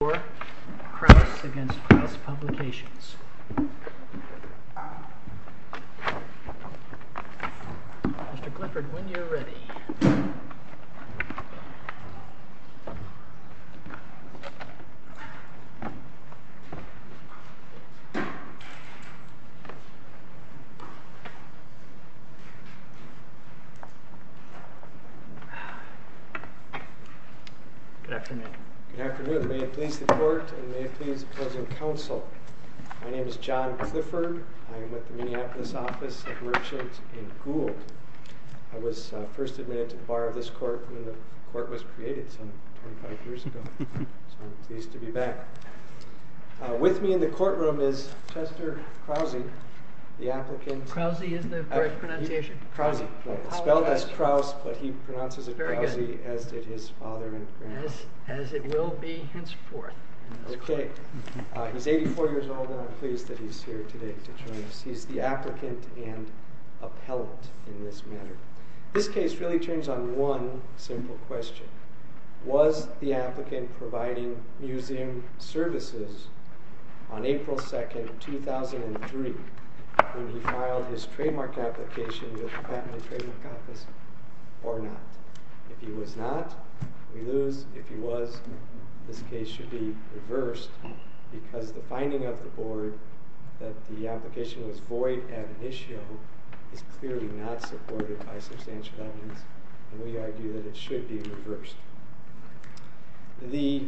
Mr. Clifford, when you're ready. Good afternoon. Good afternoon. May it please the court, and may it please the closing council. My name is John Clifford. I'm with the Minneapolis office of worship in Gould. I was first admitted to the bar of this court when the court was created some 25 years ago. So I'm pleased to be back. With me in the courtroom is Chester Krause, the applicant. Krause is the correct pronunciation. Krause. Spelled as Krause, but he pronounces it Krause, as did his father and grandfather. As it will be henceforth in this court. He's 84 years old, and I'm pleased that he's here today to join us. He's the applicant and appellant in this matter. This case really turns on one simple question. Was the applicant providing museum services on April 2, 2003, when he filed his trademark application with the Patent and Trademark Office, or not? If he was not, we lose. If he was, this case should be reversed, because the finding of the board that the application was void ad initio is clearly not supported by substantial evidence, and we argue that it should be reversed. The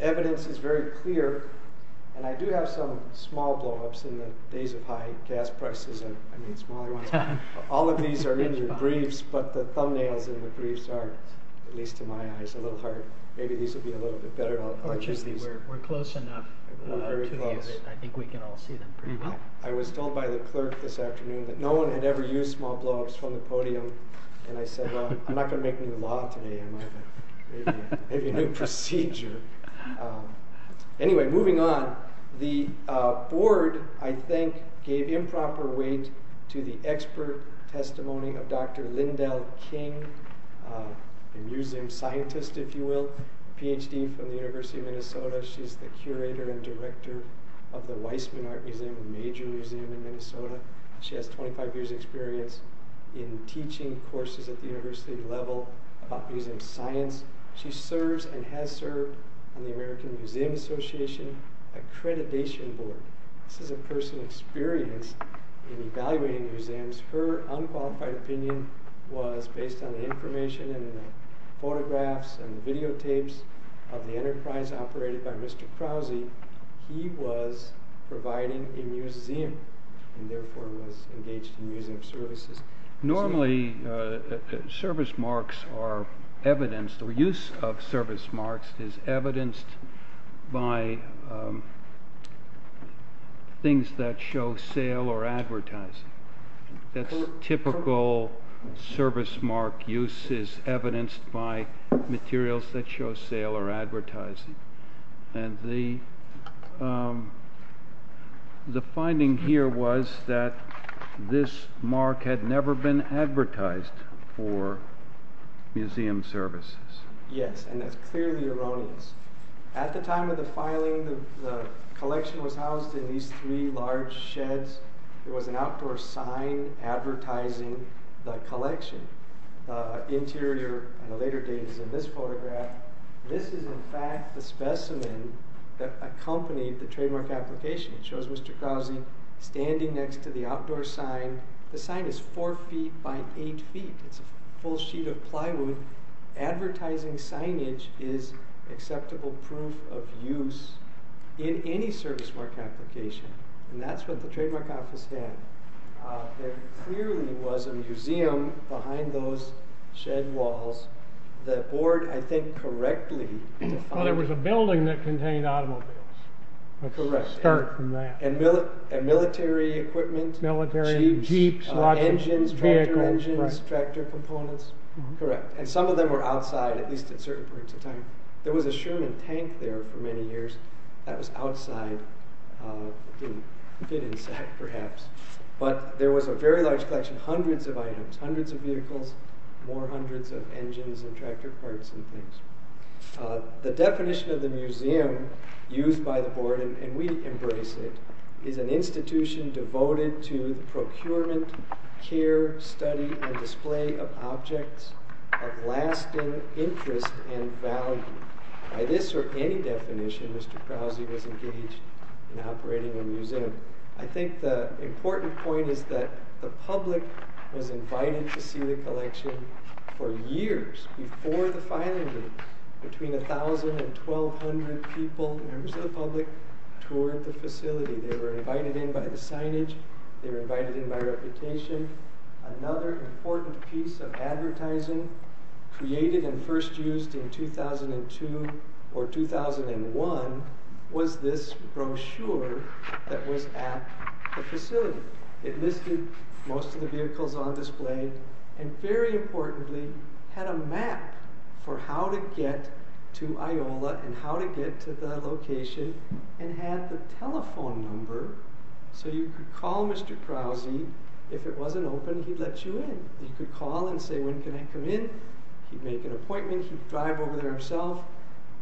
evidence is very clear, and I do have some small blowups in the days of high gas prices, and I mean smaller ones. All of these are in your briefs, but the thumbnails in the briefs are, at least to my eyes, a little hard. Maybe these will be a little bit better. I'll just use these. We're close enough to you that I think we can all see them pretty well. I was told by the clerk this afternoon that no one had ever used small blowups from the podium, and I said, well, I'm not going to make a new law today, am I? Maybe a new procedure. Anyway, moving on. The board, I think, gave improper weight to the expert testimony of Dr. Lyndell King, a museum scientist, if you will, PhD from the University of Minnesota. She's the curator and director of the Weissman Art Museum, a major museum in Minnesota. She has 25 years experience in teaching courses at the university level about museum science. She serves and has served on the American Museum Association accreditation board. This is a person experienced in evaluating museums. Her unqualified opinion was based on the information in the photographs and videotapes of the enterprise operated by Mr. Krause. He was providing a museum, and therefore was engaged in museum services. Normally, service marks are evidenced, or use of service marks is evidenced by things that show sale or advertising. That's typical service mark use is evidenced by materials that show sale or advertising. And the finding here was that this mark had never been advertised for museum services. Yes, and that's clearly erroneous. At the time of the filing, the collection was housed in these three large sheds. There was an outdoor sign advertising the collection. Interior, on a later date, is in this photograph. This is, in fact, the specimen that accompanied the trademark application. It shows Mr. Krause standing next to the outdoor sign. The sign is four feet by eight feet. It's a full sheet of plywood. Advertising signage is acceptable proof of use in any service mark application. And that's what the Trademark Office had. There clearly was a museum behind those shed walls. The board, I think, correctly found it. Well, there was a building that contained automobiles. Correct. Start from that. And military equipment. Military, jeeps, lots of vehicles. Engines, tractor engines, tractor components. Correct, and some of them were outside, at least at certain points in time. There was a Sherman tank there for many years. That was outside, didn't fit inside, perhaps. But there was a very large collection, hundreds of items, hundreds of vehicles, more hundreds of engines and tractor parts and things. The definition of the museum used by the board, and we embrace it, is an institution devoted to the procurement, care, study, and display of objects of lasting interest and value. By this or any definition, Mr. Krause was engaged in operating a museum. I think the important point is that the public was invited to see the collection for years before the filing date. Between 1,000 and 1,200 people, members of the public, toured the facility. They were invited in by the signage. They were invited in by reputation. Another important piece of advertising created and first used in 2002 or 2001 was this brochure that was at the facility. It listed most of the vehicles on display, and very importantly, had a map for how to get to Iola and how to get to the location, and had the telephone number so you could call Mr. Krause. If it wasn't open, he'd let you in. He could call and say, when can I come in? He'd make an appointment. He'd drive over there himself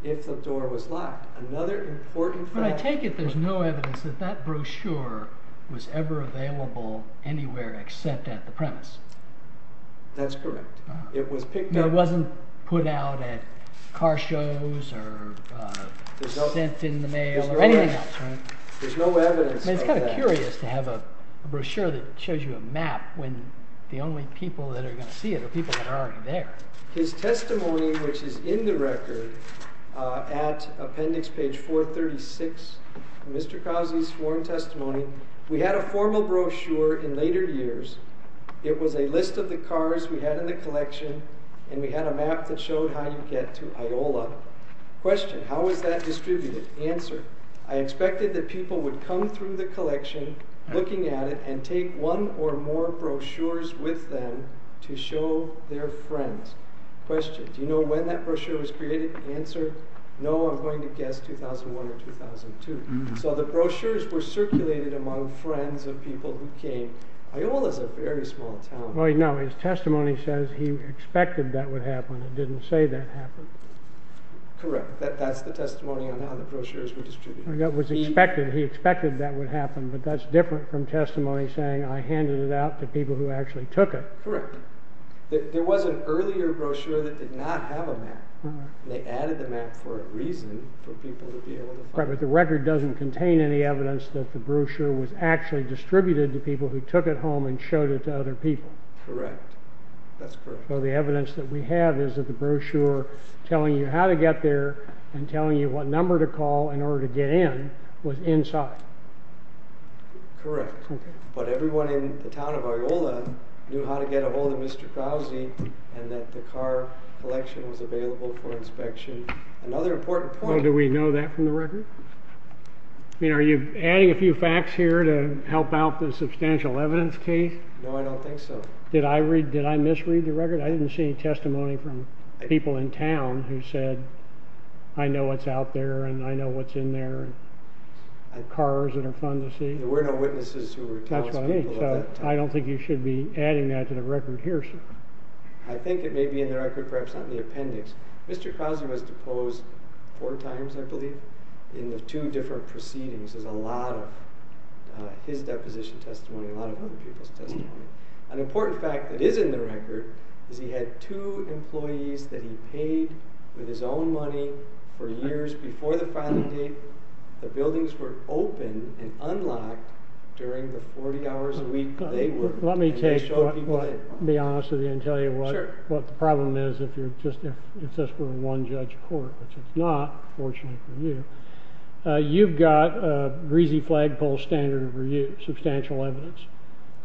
if the door was locked. Another important fact. But I take it there's no evidence that that brochure was ever available anywhere except at the premise. That's correct. It was picked up. It wasn't put out at car shows or sent in the mail or anything else, right? There's no evidence of that. It's kind of curious to have a brochure that shows you a map when the only people that are going to see it are people that are already there. His testimony, which is in the record, at appendix page 436, Mr. Krause's sworn testimony, we had a formal brochure in later years. It was a list of the cars we had in the collection, and we had a map that showed how you get to Iola. Question, how is that distributed? Answer, I expected that people would come through the collection, looking at it, and take one or more brochures with them to show their friends. Question, do you know when that brochure was created? Answer, no, I'm going to guess 2001 or 2002. So the brochures were circulated among friends of people who came. Iola's a very small town. Well, no, his testimony says he expected that would happen. It didn't say that happened. Correct, that's the testimony on how the brochures were distributed. That was expected. He expected that would happen, but that's different from testimony saying I handed it out to people who actually took it. Correct. There was an earlier brochure that did not have a map. They added the map for a reason for people to be able to find it. Correct, but the record doesn't contain any evidence that the brochure was actually distributed to people who took it home and showed it to other people. Correct, that's correct. So the evidence that we have is that the brochure telling you how to get there and telling you what number to call in order to get in was inside. Correct, but everyone in the town of Iola knew how to get a hold of Mr. Krause, and that the car collection was available for inspection. Another important point. Well, do we know that from the record? I mean, are you adding a few facts here to help out the substantial evidence case? No, I don't think so. Did I misread the record? I didn't see any testimony from people in town who said, I know what's out there, and I know what's in there, and cars that are fun to see. There were no witnesses who were townspeople at that time. I don't think you should be adding that to the record here, sir. I think it may be in the record, perhaps not in the appendix. Mr. Krause was deposed four times, I believe, in the two different proceedings. There's a lot of his deposition testimony, a lot of other people's testimony. An important fact that is in the record is he had two employees that he paid with his own money for years before the filing date. The buildings were open and unlocked during the 40 hours a week they worked. Let me be honest with you and tell you what the problem is, if you're just, it's just for one judge of court, which it's not, fortunately for you, you've got a greasy flagpole standard of review, substantial evidence.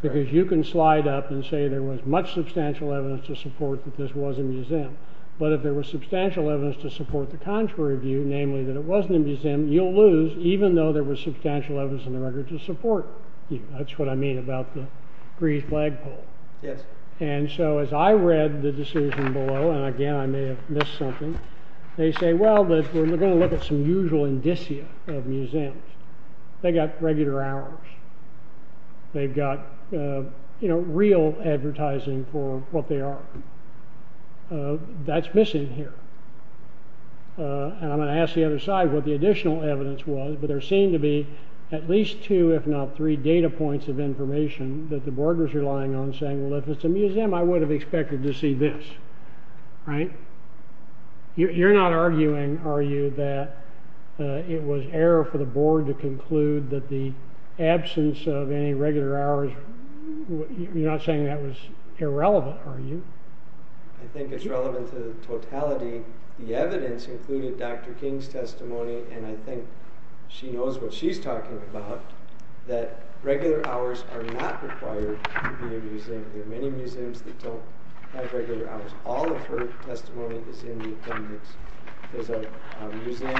Because you can slide up and say there was much substantial evidence to support that this was a museum. But if there was substantial evidence to support the contrary view, namely that it wasn't a museum, you'll lose, even though there was substantial evidence in the record to support you. That's what I mean about the greasy flagpole. And so as I read the decision below, and again, I may have missed something, they say, well, we're going to look at some usual indicia of museums. They got regular hours. They've got real advertising for what they are. That's missing here. And I'm going to ask the other side what the additional evidence was, but there seem to be at least two, if not three, data points of information that the boarders are lying on, saying, well, if it's a museum, I would have expected to see this, right? You're not arguing, are you, that it was error for the board to conclude that the absence of any regular hours, you're not saying that was irrelevant, are you? I think it's relevant to the totality. The evidence included Dr. King's testimony, and I think she knows what she's talking about, that regular hours are not required to be a museum. There are many museums that don't have regular hours. All of her testimony is in the attendance. There's a museum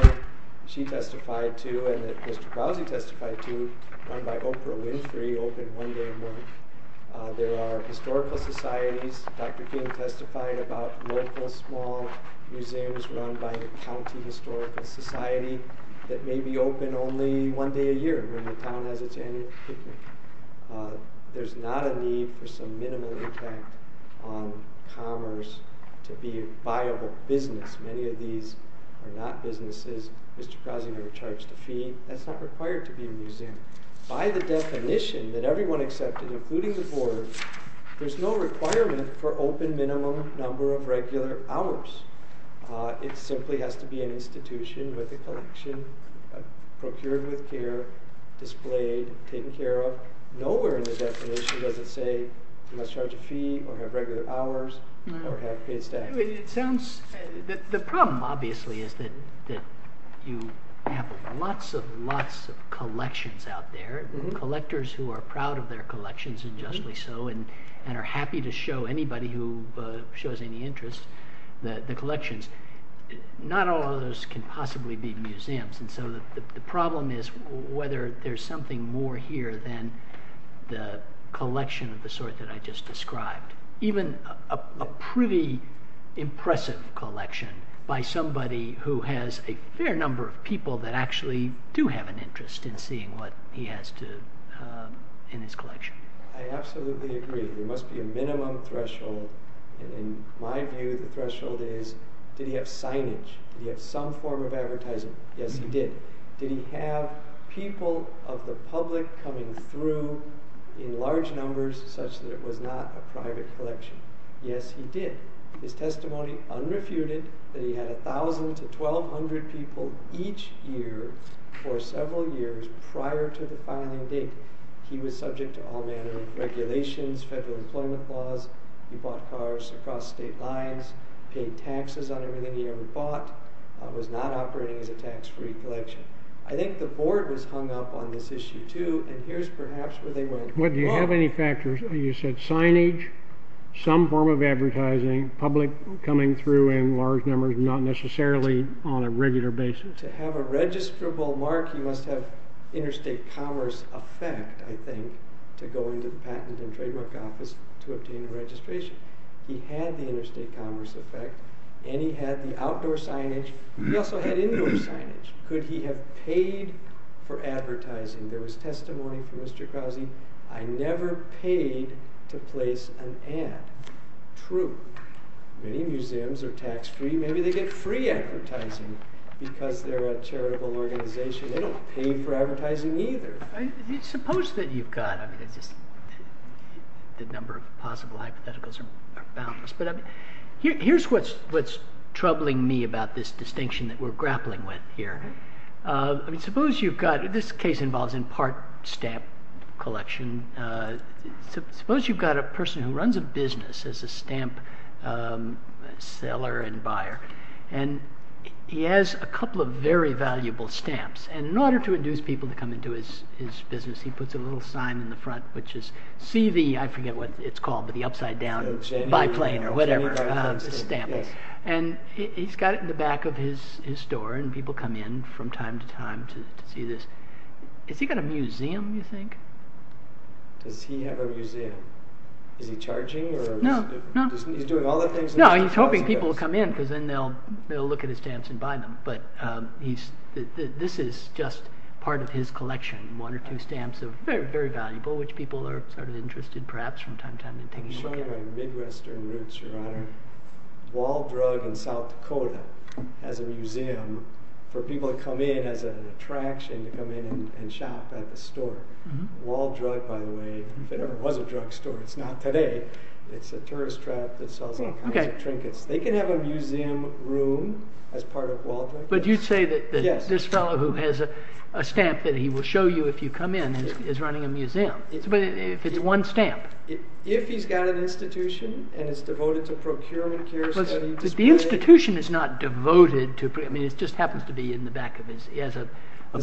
she testified to and that Mr. Crousy testified to run by Oprah Winfrey, open one day a month. There are historical societies. Dr. King testified about local small museums run by a county historical society that may be open only one day a year when the town has its annual picnic. There's not a need for some minimal impact on commerce to be a viable business. Many of these are not businesses. Mr. Crousy never charged a fee. That's not required to be a museum. By the definition that everyone accepted, including the board, there's no requirement for open minimum number of regular hours. It simply has to be an institution with a collection, procured with care, displayed, taken care of. Nowhere in the definition does it say you must charge a fee or have regular hours or have paid staff. The problem, obviously, is that you have lots and lots of collections out there, collectors who are proud of their collections, and justly so, and are happy to show anybody who shows any interest the collections. Not all of those can possibly be museums, and so the problem is whether there's something more here than the collection of the sort that I just described. Even a pretty impressive collection by somebody who has a fair number of people that actually do have an interest in seeing what he has in his collection. I absolutely agree. There must be a minimum threshold. In my view, the threshold is, did he have signage? Did he have some form of advertising? Yes, he did. Did he have people of the public coming through in large numbers such that it was not a private collection? Yes, he did. His testimony unrefuted that he had 1,000 to 1,200 people each year for several years prior to the filing date. He was subject to all manner of regulations, federal employment laws. He bought cars across state lines, paid taxes on everything he ever bought, was not operating as a tax-free collection. I think the board was hung up on this issue too, and here's perhaps where they went wrong. Do you have any factors? You said signage, some form of advertising, public coming through in large numbers, not necessarily on a regular basis. To have a registrable mark, you must have interstate commerce effect, I think, to go into the Patent and Trademark Office to obtain a registration. He had the interstate commerce effect, and he had the outdoor signage. He also had indoor signage. Could he have paid for advertising? There was testimony from Mr. Krause, I never paid to place an ad. True. Many museums are tax-free. Maybe they get free advertising because they're a charitable organization. They don't pay for advertising either. Suppose that you've got, I mean, the number of possible hypotheticals are boundless, but here's what's troubling me about this distinction that we're grappling with here. I mean, suppose you've got, this case involves in part stamp collection, suppose you've got a person who runs a business as a stamp seller and buyer, and he has a couple of very valuable stamps, and in order to induce people to come into his business, he puts a little sign in the front, which is, see the, I forget what it's called, but the upside down biplane or whatever, the stamps, and he's got it in the back of his store, and people come in from time to time to see this. Has he got a museum, you think? Does he have a museum? Is he charging? No, no. He's doing all the things? No, he's hoping people will come in because then they'll look at his stamps and buy them, but this is just part of his collection, one or two stamps of very, very valuable, which people are sort of interested perhaps from time to time in taking a look at. Midwestern roots, your honor. Waldrug in South Dakota has a museum for people to come in as an attraction to come in and shop at the store. Waldrug, by the way, if it ever was a drugstore, it's not today, it's a tourist trap that sells all kinds of trinkets. They can have a museum room as part of Waldrug? But you'd say that this fellow who has a stamp that he will show you if you come in is running a museum. If it's one stamp. If he's got an institution and it's devoted to procurement, care, study, display. But the institution is not devoted to, I mean, it just happens to be in the back of his, he has a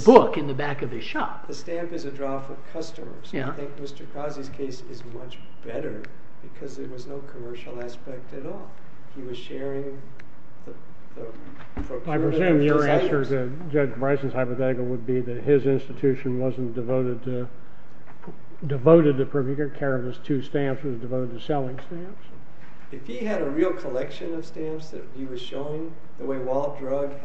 book in the back of his shop. The stamp is a draw for customers. I think Mr. Krause's case is much better because there was no commercial aspect at all. He was sharing the procurement. I presume your answer to Judge Bryce's hypothetical would be that his institution wasn't devoted to procurement. He took care of his two stamps. It was devoted to selling stamps. If he had a real collection of stamps that he was showing, the way Waldrug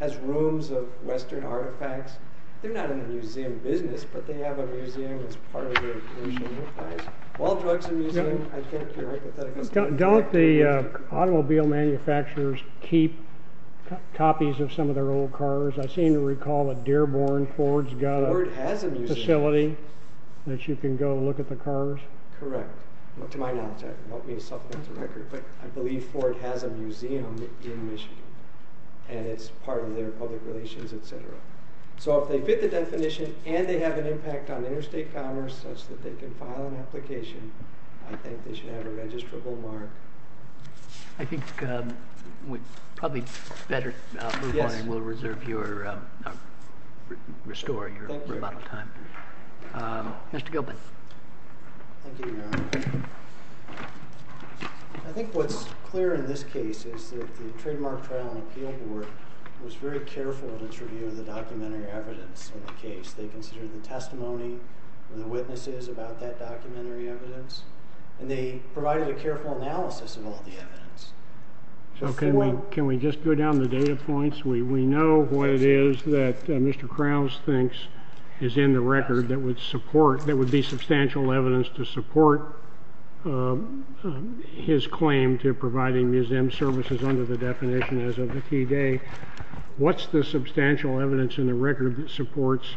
has rooms of Western artifacts, they're not in the museum business, but they have a museum as part of their commercial enterprise. Waldrug's a museum. Don't the automobile manufacturers keep copies of some of their old cars? I seem to recall that Dearborn, Ford's got a facility that you can go look at the cars. Correct. To my knowledge. I believe Ford has a museum in Michigan. And it's part of their public relations, etc. So if they fit the definition and they have an impact on interstate commerce such that they can file an application, I think they should have a registrable mark. I think we probably better move on and we'll restore your rebuttal time. Mr. Gilbert. Thank you, Your Honor. I think what's clear in this case is that the Trademark Trial and Appeal Board was very careful in its review of the documentary evidence in the case. They considered the testimony and the witnesses about that documentary evidence, and they provided a careful analysis of all the evidence. Can we just go down the data points? We know what it is that Mr. Krause thinks is in the record that would support, that would be substantial evidence to support his claim to providing museum services under the definition as of the key day. What's the substantial evidence in the record that supports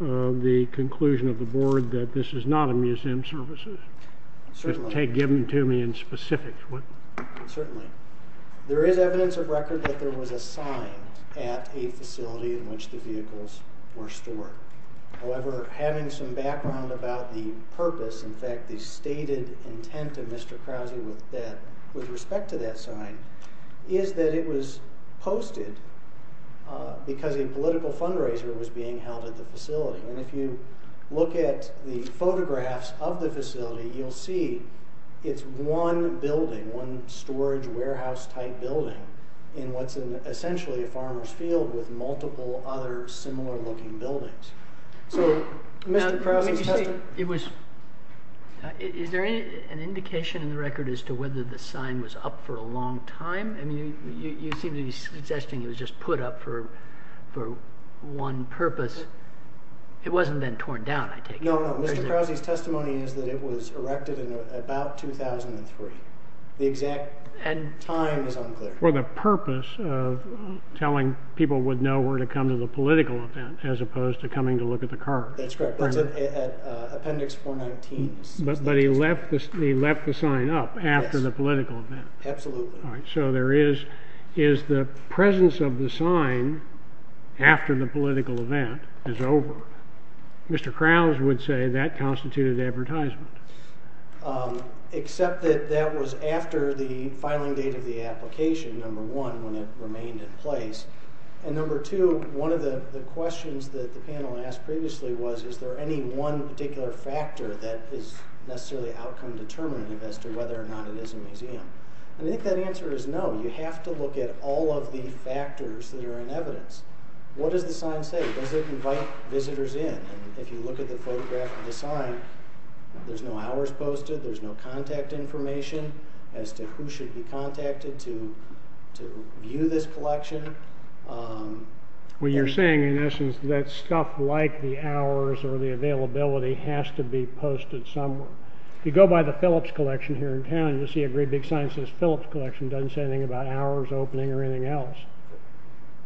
the conclusion of the board that this is not a museum services? Certainly. Give them to me in specifics. Certainly. There is evidence of record that there was a sign at a facility in which the vehicles were stored. However, having some background about the purpose, in fact the stated intent of Mr. Krause with respect to that sign, is that it was posted because a political fundraiser was being held at the facility. And if you look at the photographs of the facility, you'll see it's one building, one storage warehouse-type building in what's essentially a farmer's field with multiple other similar-looking buildings. So Mr. Krause's testimony... It was... Is there an indication in the record as to whether the sign was up for a long time? I mean, you seem to be suggesting it was just put up for one purpose. It wasn't then torn down, I take it. No, no, Mr. Krause's testimony is that it was erected in about 2003. The exact time is unclear. For the purpose of telling people would know where to come to the political event as opposed to coming to look at the car. That's correct. That's at Appendix 419. But he left the sign up after the political event. Absolutely. So there is... Is the presence of the sign after the political event is over? Mr. Krause would say that constituted advertisement. Except that that was after the filing date of the application, number one, when it remained in place. And number two, one of the questions that the panel asked previously was is there any one particular factor that is necessarily outcome-determinative as to whether or not it is a museum. I think that answer is no. You have to look at all of the factors that are in evidence. What does the sign say? Does it invite visitors in? If you look at the photograph of the sign, there's no hours posted, there's no contact information as to who should be contacted to view this collection. What you're saying in essence is that stuff like the hours or the availability has to be posted somewhere. If you go by the Phillips Collection here in town, you'll see a great big sign that says Phillips Collection. It doesn't say anything about hours opening or anything else.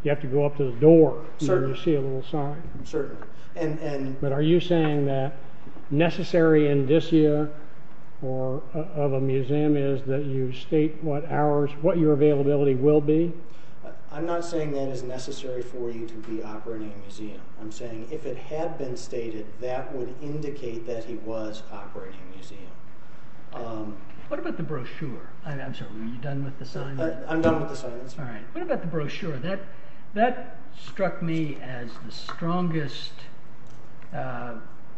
You have to go up to the door to see a little sign. Certainly. But are you saying that the necessary indicia of a museum is that you state what hours, what your availability will be? I'm not saying that is necessary for you to be operating a museum. I'm saying if it had been stated, that would indicate that he was operating a museum. What about the brochure? I'm sorry, are you done with the sign? I'm done with the sign. What about the brochure? That struck me as the strongest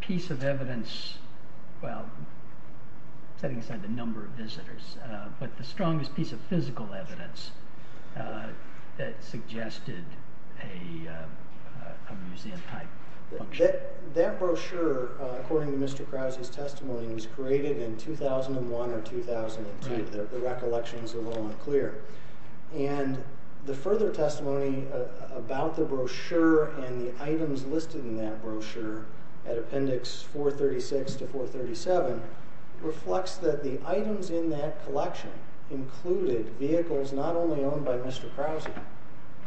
piece of evidence, well, setting aside the number of visitors, but the strongest piece of physical evidence that suggested a museum type function. That brochure, according to Mr. Krause's testimony, was created in 2001 or 2002. The recollection is a little unclear. The further testimony about the brochure and the items listed in that brochure at appendix 436 to 437 reflects that the items in that vehicles not only owned by Mr. Krause,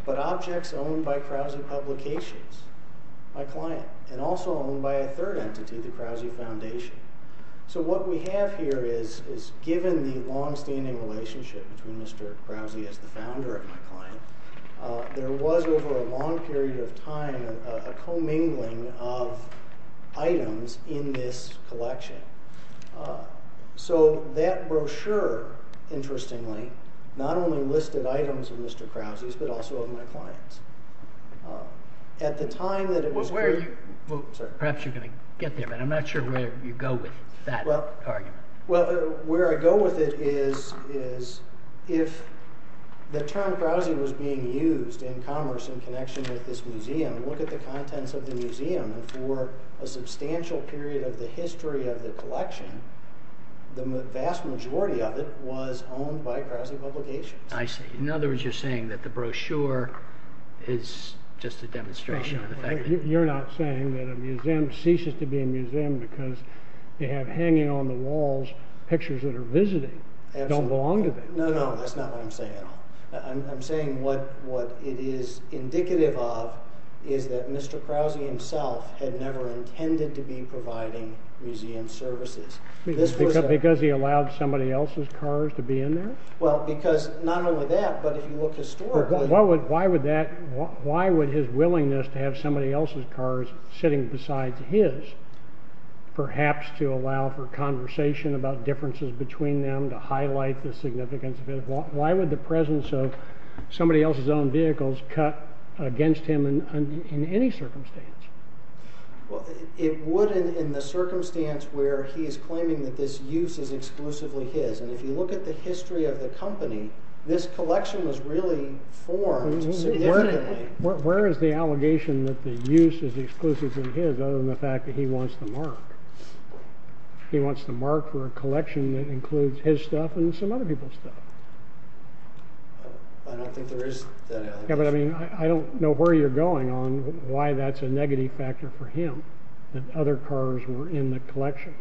but objects owned by Krause Publications, my client, and also owned by a third entity, the Krause Foundation. given the longstanding relationship between Mr. Krause as the founder and my client, there was over a long period of time a commingling of items in this collection. That brochure, interestingly, not only listed items of Mr. Krause's, but also of my clients. At the time that it was created... Perhaps you're going to get there, but I'm not sure where you go with that argument. Where I go with it is if the term Krause was being used in commerce in connection with this museum, look at the contents of the museum and for a substantial period of the history of the collection, the vast majority of it was owned by Krause Publications. I see. In other words, you're saying that the brochure is just a demonstration. You're not saying that a museum ceases to be a museum because they have hanging on the walls pictures that are visiting. Don't belong to them. No, no, that's not what I'm saying at all. I'm saying what it is indicative of is that Mr. Krause himself had never intended to be providing museum services. Because he allowed somebody else's cars to be in there? Well, because not only that, but if you look historically... Why would his willingness to have somebody else's cars sitting besides his perhaps to allow for conversation about differences between them, to highlight the significance of it, why would the presence of somebody else's own vehicles cut against him in any circumstance? It would in the circumstance where he is claiming that this use is exclusively his. And if you look at the history of the company, this collection was really formed significantly. Where is the allegation that the use is exclusively his other than the fact that he wants to mark? He wants to mark for a collection that includes his stuff and some other people's stuff. I don't think there is that allegation. I don't know where you're going on why that's a negative factor for him that other cars were in the collection.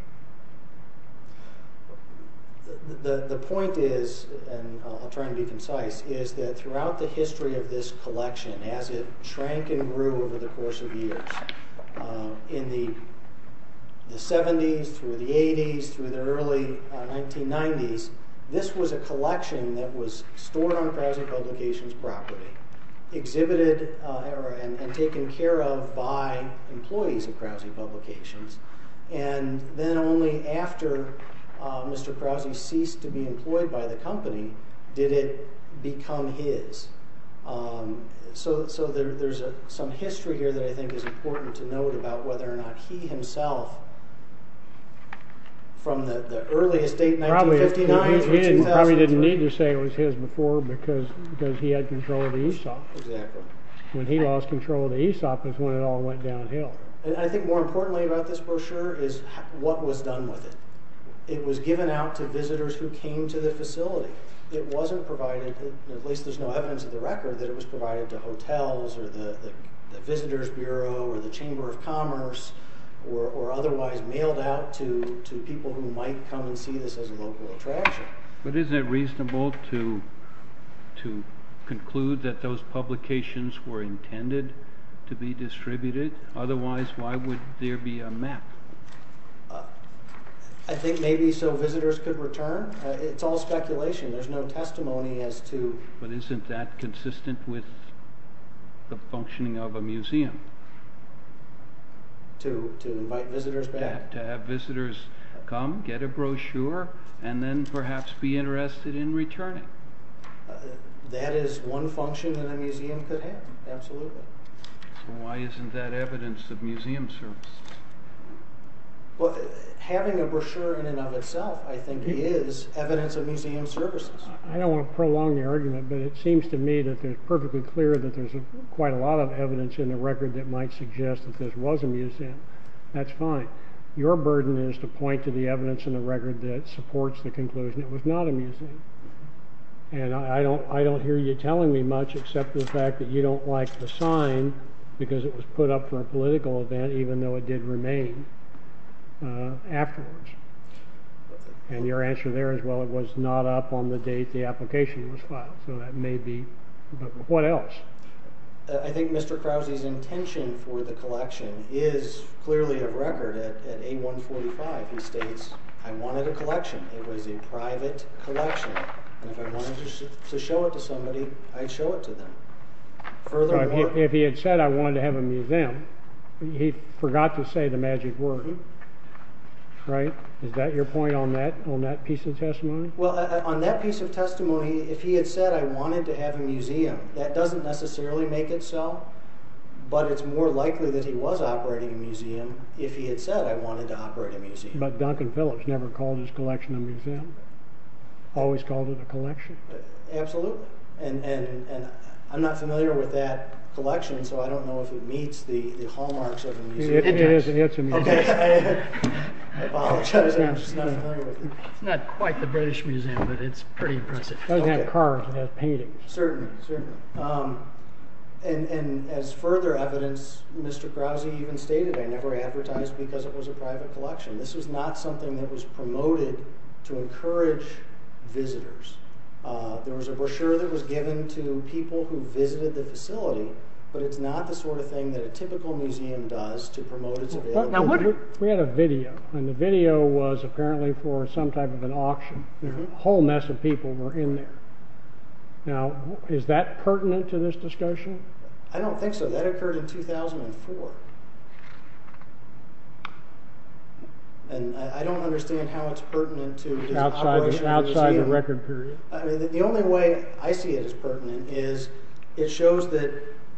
The point is, and I'll try to be concise, is that throughout the history of this collection, as it shrank and grew over the course of years, in the 70s, through the 80s, through the early 1990s, this was a collection that was stored on Krause Publications property. Exhibited and taken care of by employees of Krause Publications. Then only after Mr. Krause ceased to be employed by the company, did it become his. There is some history here that I think is important to note about whether or not he himself from the earliest date, 1959 through 2003. He probably didn't need to say it was his before because he had control of the Aesop. When he lost control of the Aesop is when it all went downhill. I think more importantly about this brochure is what was done with it. It was given out to visitors who came to the facility. It wasn't provided at least there's no evidence of the record that it was provided to hotels or the Visitors Bureau or the Chamber of Commerce or otherwise mailed out to people who might come and see this as a local attraction. But isn't it reasonable to conclude that those publications were intended to be distributed? Otherwise, why would there be a map? I think maybe so visitors could return. It's all speculation. There's no testimony as to... But isn't that consistent with the functioning of a museum? To invite visitors back? To have visitors come, get a brochure, and then perhaps be interested in returning. That is one function that a museum could have. Absolutely. Why isn't that evidence of museum services? Having a brochure in and of itself I think is evidence of a museum service. make any argument, but it seems to me that it's perfectly clear that there's quite a lot of evidence in the record that might suggest that this was a museum. That's fine. Your burden is to point to the evidence in the record that supports the conclusion it was not a museum. And I don't hear you telling me much except the fact that you don't like the sign because it was put up for a political event even though it did remain afterwards. And your answer there is, well, it was not up on the date the application was filed. So that may be... But what else? I think Mr. Krause's intention for the collection is clearly a record at A145. He states, I wanted a collection. It was a private collection. If I wanted to show it to somebody, I'd show it to them. If he had said I wanted to have a museum, he forgot to say the magic word. Is that your point on that piece of testimony? On that piece of testimony, if he had said I wanted to have a museum, that doesn't necessarily make it so. But it's more likely that he was operating a museum if he had said I wanted to operate a museum. But Duncan Phillips never called his collection a museum. Always called it a collection. Absolutely. I'm not familiar with that hallmarks of a museum. It is a museum. I apologize, I'm just not familiar with it. It's not quite the British Museum, but it's pretty impressive. It doesn't have cars, it has paintings. Certainly. And as further evidence, Mr. Krause even stated, I never advertised because it was a private collection. This was not something that was promoted to encourage visitors. There was a brochure that was given to people who visited the facility, but it's not the sort of thing that a typical museum does to promote its availability. We had a video, and the video was apparently for some type of an auction. A whole mess of people were in there. Now, is that pertinent to this discussion? I don't think so. That occurred in 2004. And I don't understand how it's pertinent to this operation of a museum. Outside the record period. The only way I see it as pertinent is it shows that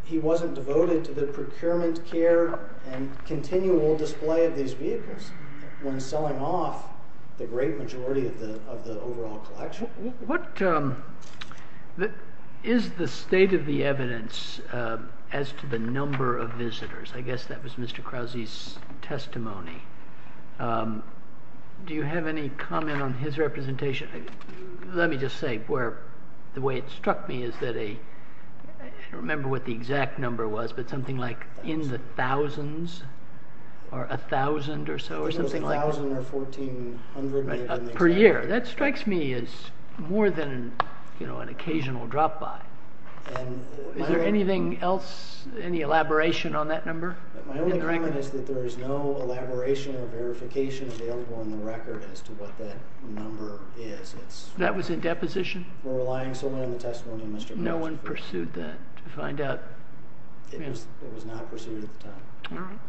he wasn't devoted to the procurement care and continual display of these vehicles when selling off the great majority of the overall collection. What is the state of the evidence as to the number of visitors? I guess that was Mr. Krause's testimony. Do you have any comment on his representation? Let me just say, the way it struck me is that a, I don't remember what the exact number was, but something like in the thousands or a thousand or so, per year. That strikes me as more than an occasional drop by. Is there anything else, any elaboration on that number? My only comment is that there is no elaboration or verification available on the record as to what that number is. That was in deposition? We're relying solely on the testimony of Mr. Krause. No one pursued that to find out. It was not pursued at the time.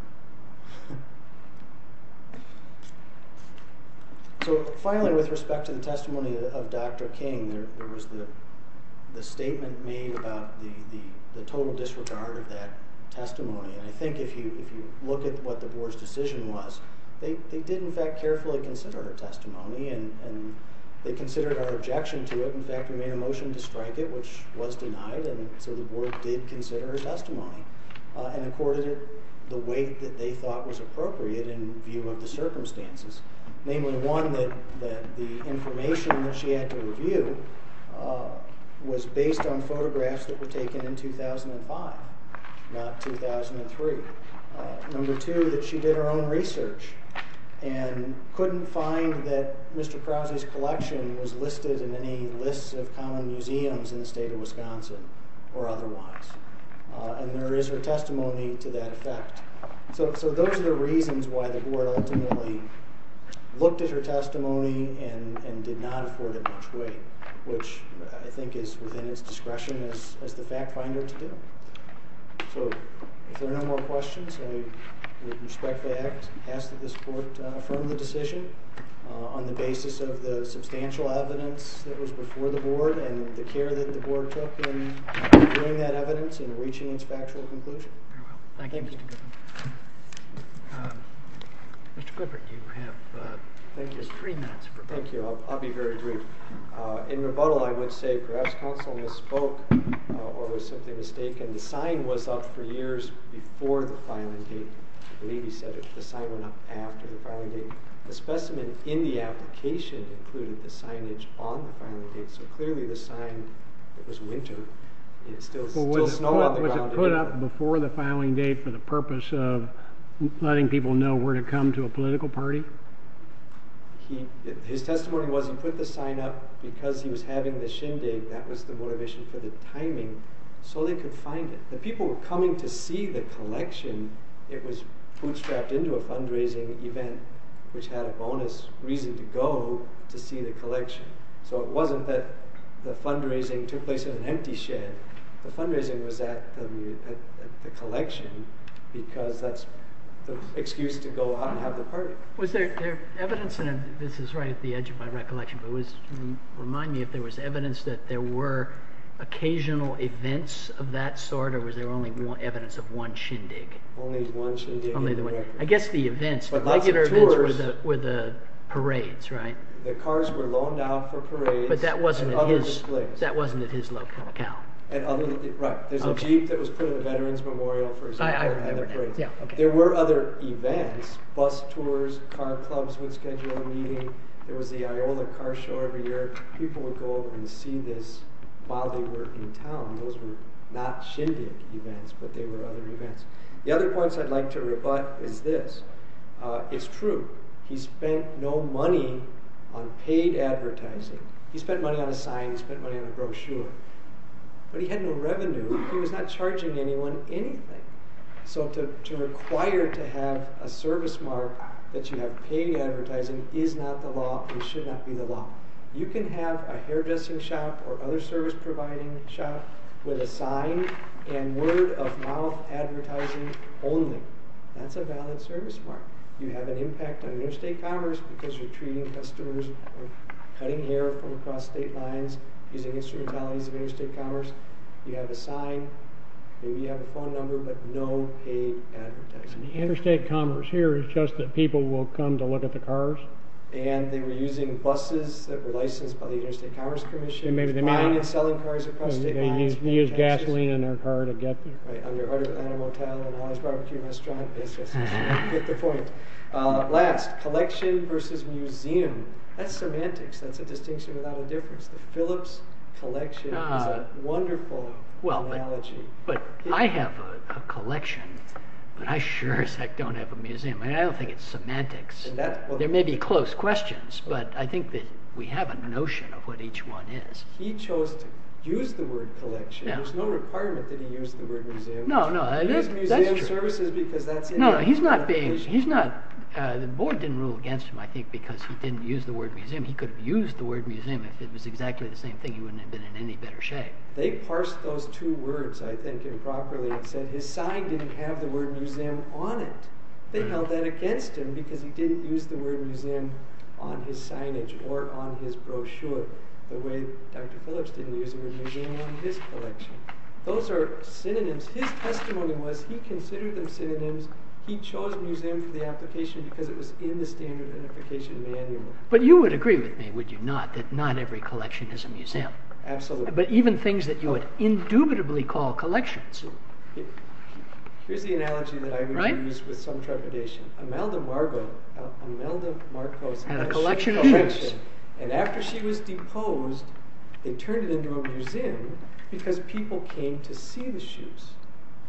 Finally, with respect to the testimony of Dr. King, there was the statement made about the total disregard of that testimony. I think if you look at what the board's decision was, they did in fact carefully consider her testimony and they considered our objection to it. In fact, we made a motion to strike it, which was denied and so the board did consider her testimony and accorded it the way that they thought was appropriate in view of the circumstances. Namely, one, that the information that she had to review was based on photographs that were taken in 2005, not 2003. Number two, that she did her own research and couldn't find that Mr. Krause's collection was listed in any list of common museums in the state of Wisconsin or otherwise. There is her testimony to that effect. Those are the reasons why the board ultimately looked at her testimony and did not afford it much weight, which I think is within its discretion as the fact finder to do. If there are no more questions, I would respectfully ask that this board affirm the decision on the basis of the substantial evidence that was before the board and the care that the board took in doing that evidence and reaching its factual conclusion. Thank you. Mr. Clifford, you have just three minutes. Thank you. I'll be very brief. In rebuttal, I would say perhaps counsel misspoke or was simply mistaken. The sign was up for years before the filing date. I believe he said the sign went up after the filing date. The specimen in the application included the signage on the filing date, so clearly the sign, it was winter. It's still snow on the ground. Was it put up before the filing date for the purpose of letting people know where to come to a political party? His testimony was he put the sign up because he was having the shindig. That was the motivation for the timing so they could find it. The people were coming to see the collection. It was bootstrapped into a fundraising event which had a bonus reason to go to see the collection. So it wasn't that the fundraising took place in an empty shed. The fundraising was at the collection because that's the excuse to go out and have the party. Was there evidence, and this is right at the edge of my recollection, but remind me if there was evidence that there were occasional events of that sort or was there only evidence of one shindig? Only one shindig. I guess the regular events were the parades, right? The cars were loaned out for parades. But that wasn't at his local account. Right. There's a jeep that was put at a veterans memorial for example. I remember that. There were other events, bus tours, car clubs would schedule a meeting. There was the Iola car show every year. People would go over and see this while they were in town. Those were not shindig events but they were other events. The other points I'd like to rebut is this. It's true. He spent no money on paid advertising. He spent money on a sign. He spent money on a brochure. But he had no revenue. He was not charging anyone anything. So to require to have a service mark that you have paid advertising is not the law and should not be the law. You can have a hairdressing shop or other service providing shop with a sign and word of mouth advertising only. That's a valid service mark. You have an impact on interstate commerce because you're treating customers or cutting hair from across state lines using instrumentalities of interstate commerce. You have a sign. Maybe you have a phone number but no paid advertising. Interstate commerce here is just that people will come to look at the cars. And they were using buses that were licensed by the interstate commerce commission. Buying and selling cars across state lines. They used gasoline in their car to get there. On your heart of Atlanta motel and Hollywood BBQ restaurant. Get the point. Last. Collection versus museum. That's semantics. That's a distinction without a difference. The Phillips collection is a wonderful analogy. But I have a collection but I sure as heck don't have a museum. I don't think it's semantics. There may be close questions but I think that we have a notion of what each one is. He chose to use the word collection. There's no requirement that he use the word museum. No, no. That's true. He used museum services because that's... The board didn't rule against him I think because he didn't use the word museum. He could have used the word museum if it was exactly the same thing. He wouldn't have been in any better shape. They parsed those two words I think improperly and said his sign didn't have the word museum on it. They held that against him because he didn't use the word museum on his signage or on his brochure. The way Dr. Phillips didn't use the word museum on his collection. Those are synonyms. His testimony was he considered them synonyms. He chose museum for the application because it was in the standard application manual. But you would agree with me, would you not, that not every collection is a museum. Absolutely. But even things that you would indubitably call collections. Here's the analogy that I would use with some trepidation. Imelda Marcos had a shoe collection and after she was deposed they turned it into a museum because people came to see the shoes.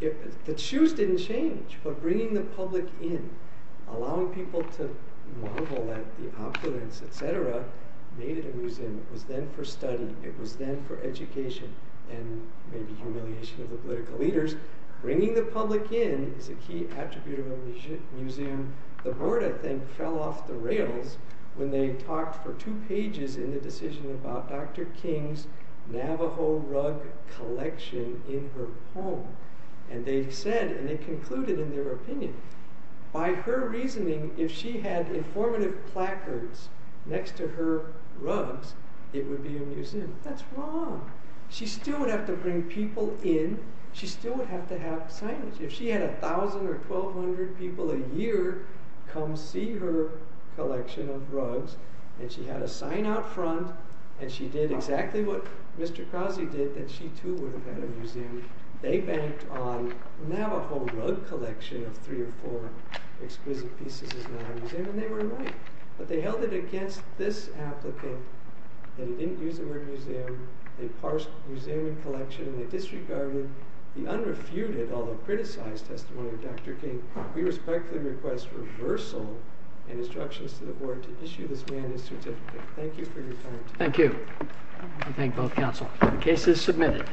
The shoes didn't change but bringing the public in allowing people to marvel at the opulence, etc. made it a museum. It was then for study. It was then for education and maybe humiliation of the political leaders. Bringing the public in is a key attribute of a museum. The board I think fell off the rails when they talked for two pages in the decision about Dr. King's Navajo rug collection in her home. And they said, and they concluded in their opinion, by her reasoning if she had informative placards next to her rugs it would be a museum. She still would have to bring people in. She still would have to have signage. If she had 1,000 or 1,200 people a year come see her collection of rugs and she had a sign out front and she did exactly what Mr. Krause did, then she too would have had a museum. They banked on Navajo rug collection of three or four exquisite pieces in our museum and they were right. But they held it against this applicant. They didn't use the word museum. They parsed museum and collection. They disregarded the unrefuted, although criticized testimony of Dr. King. We respectfully request reversal and instructions to the board to issue this mandate certificate. Thank you for your time. Thank you. I thank both counsel. The case is submitted.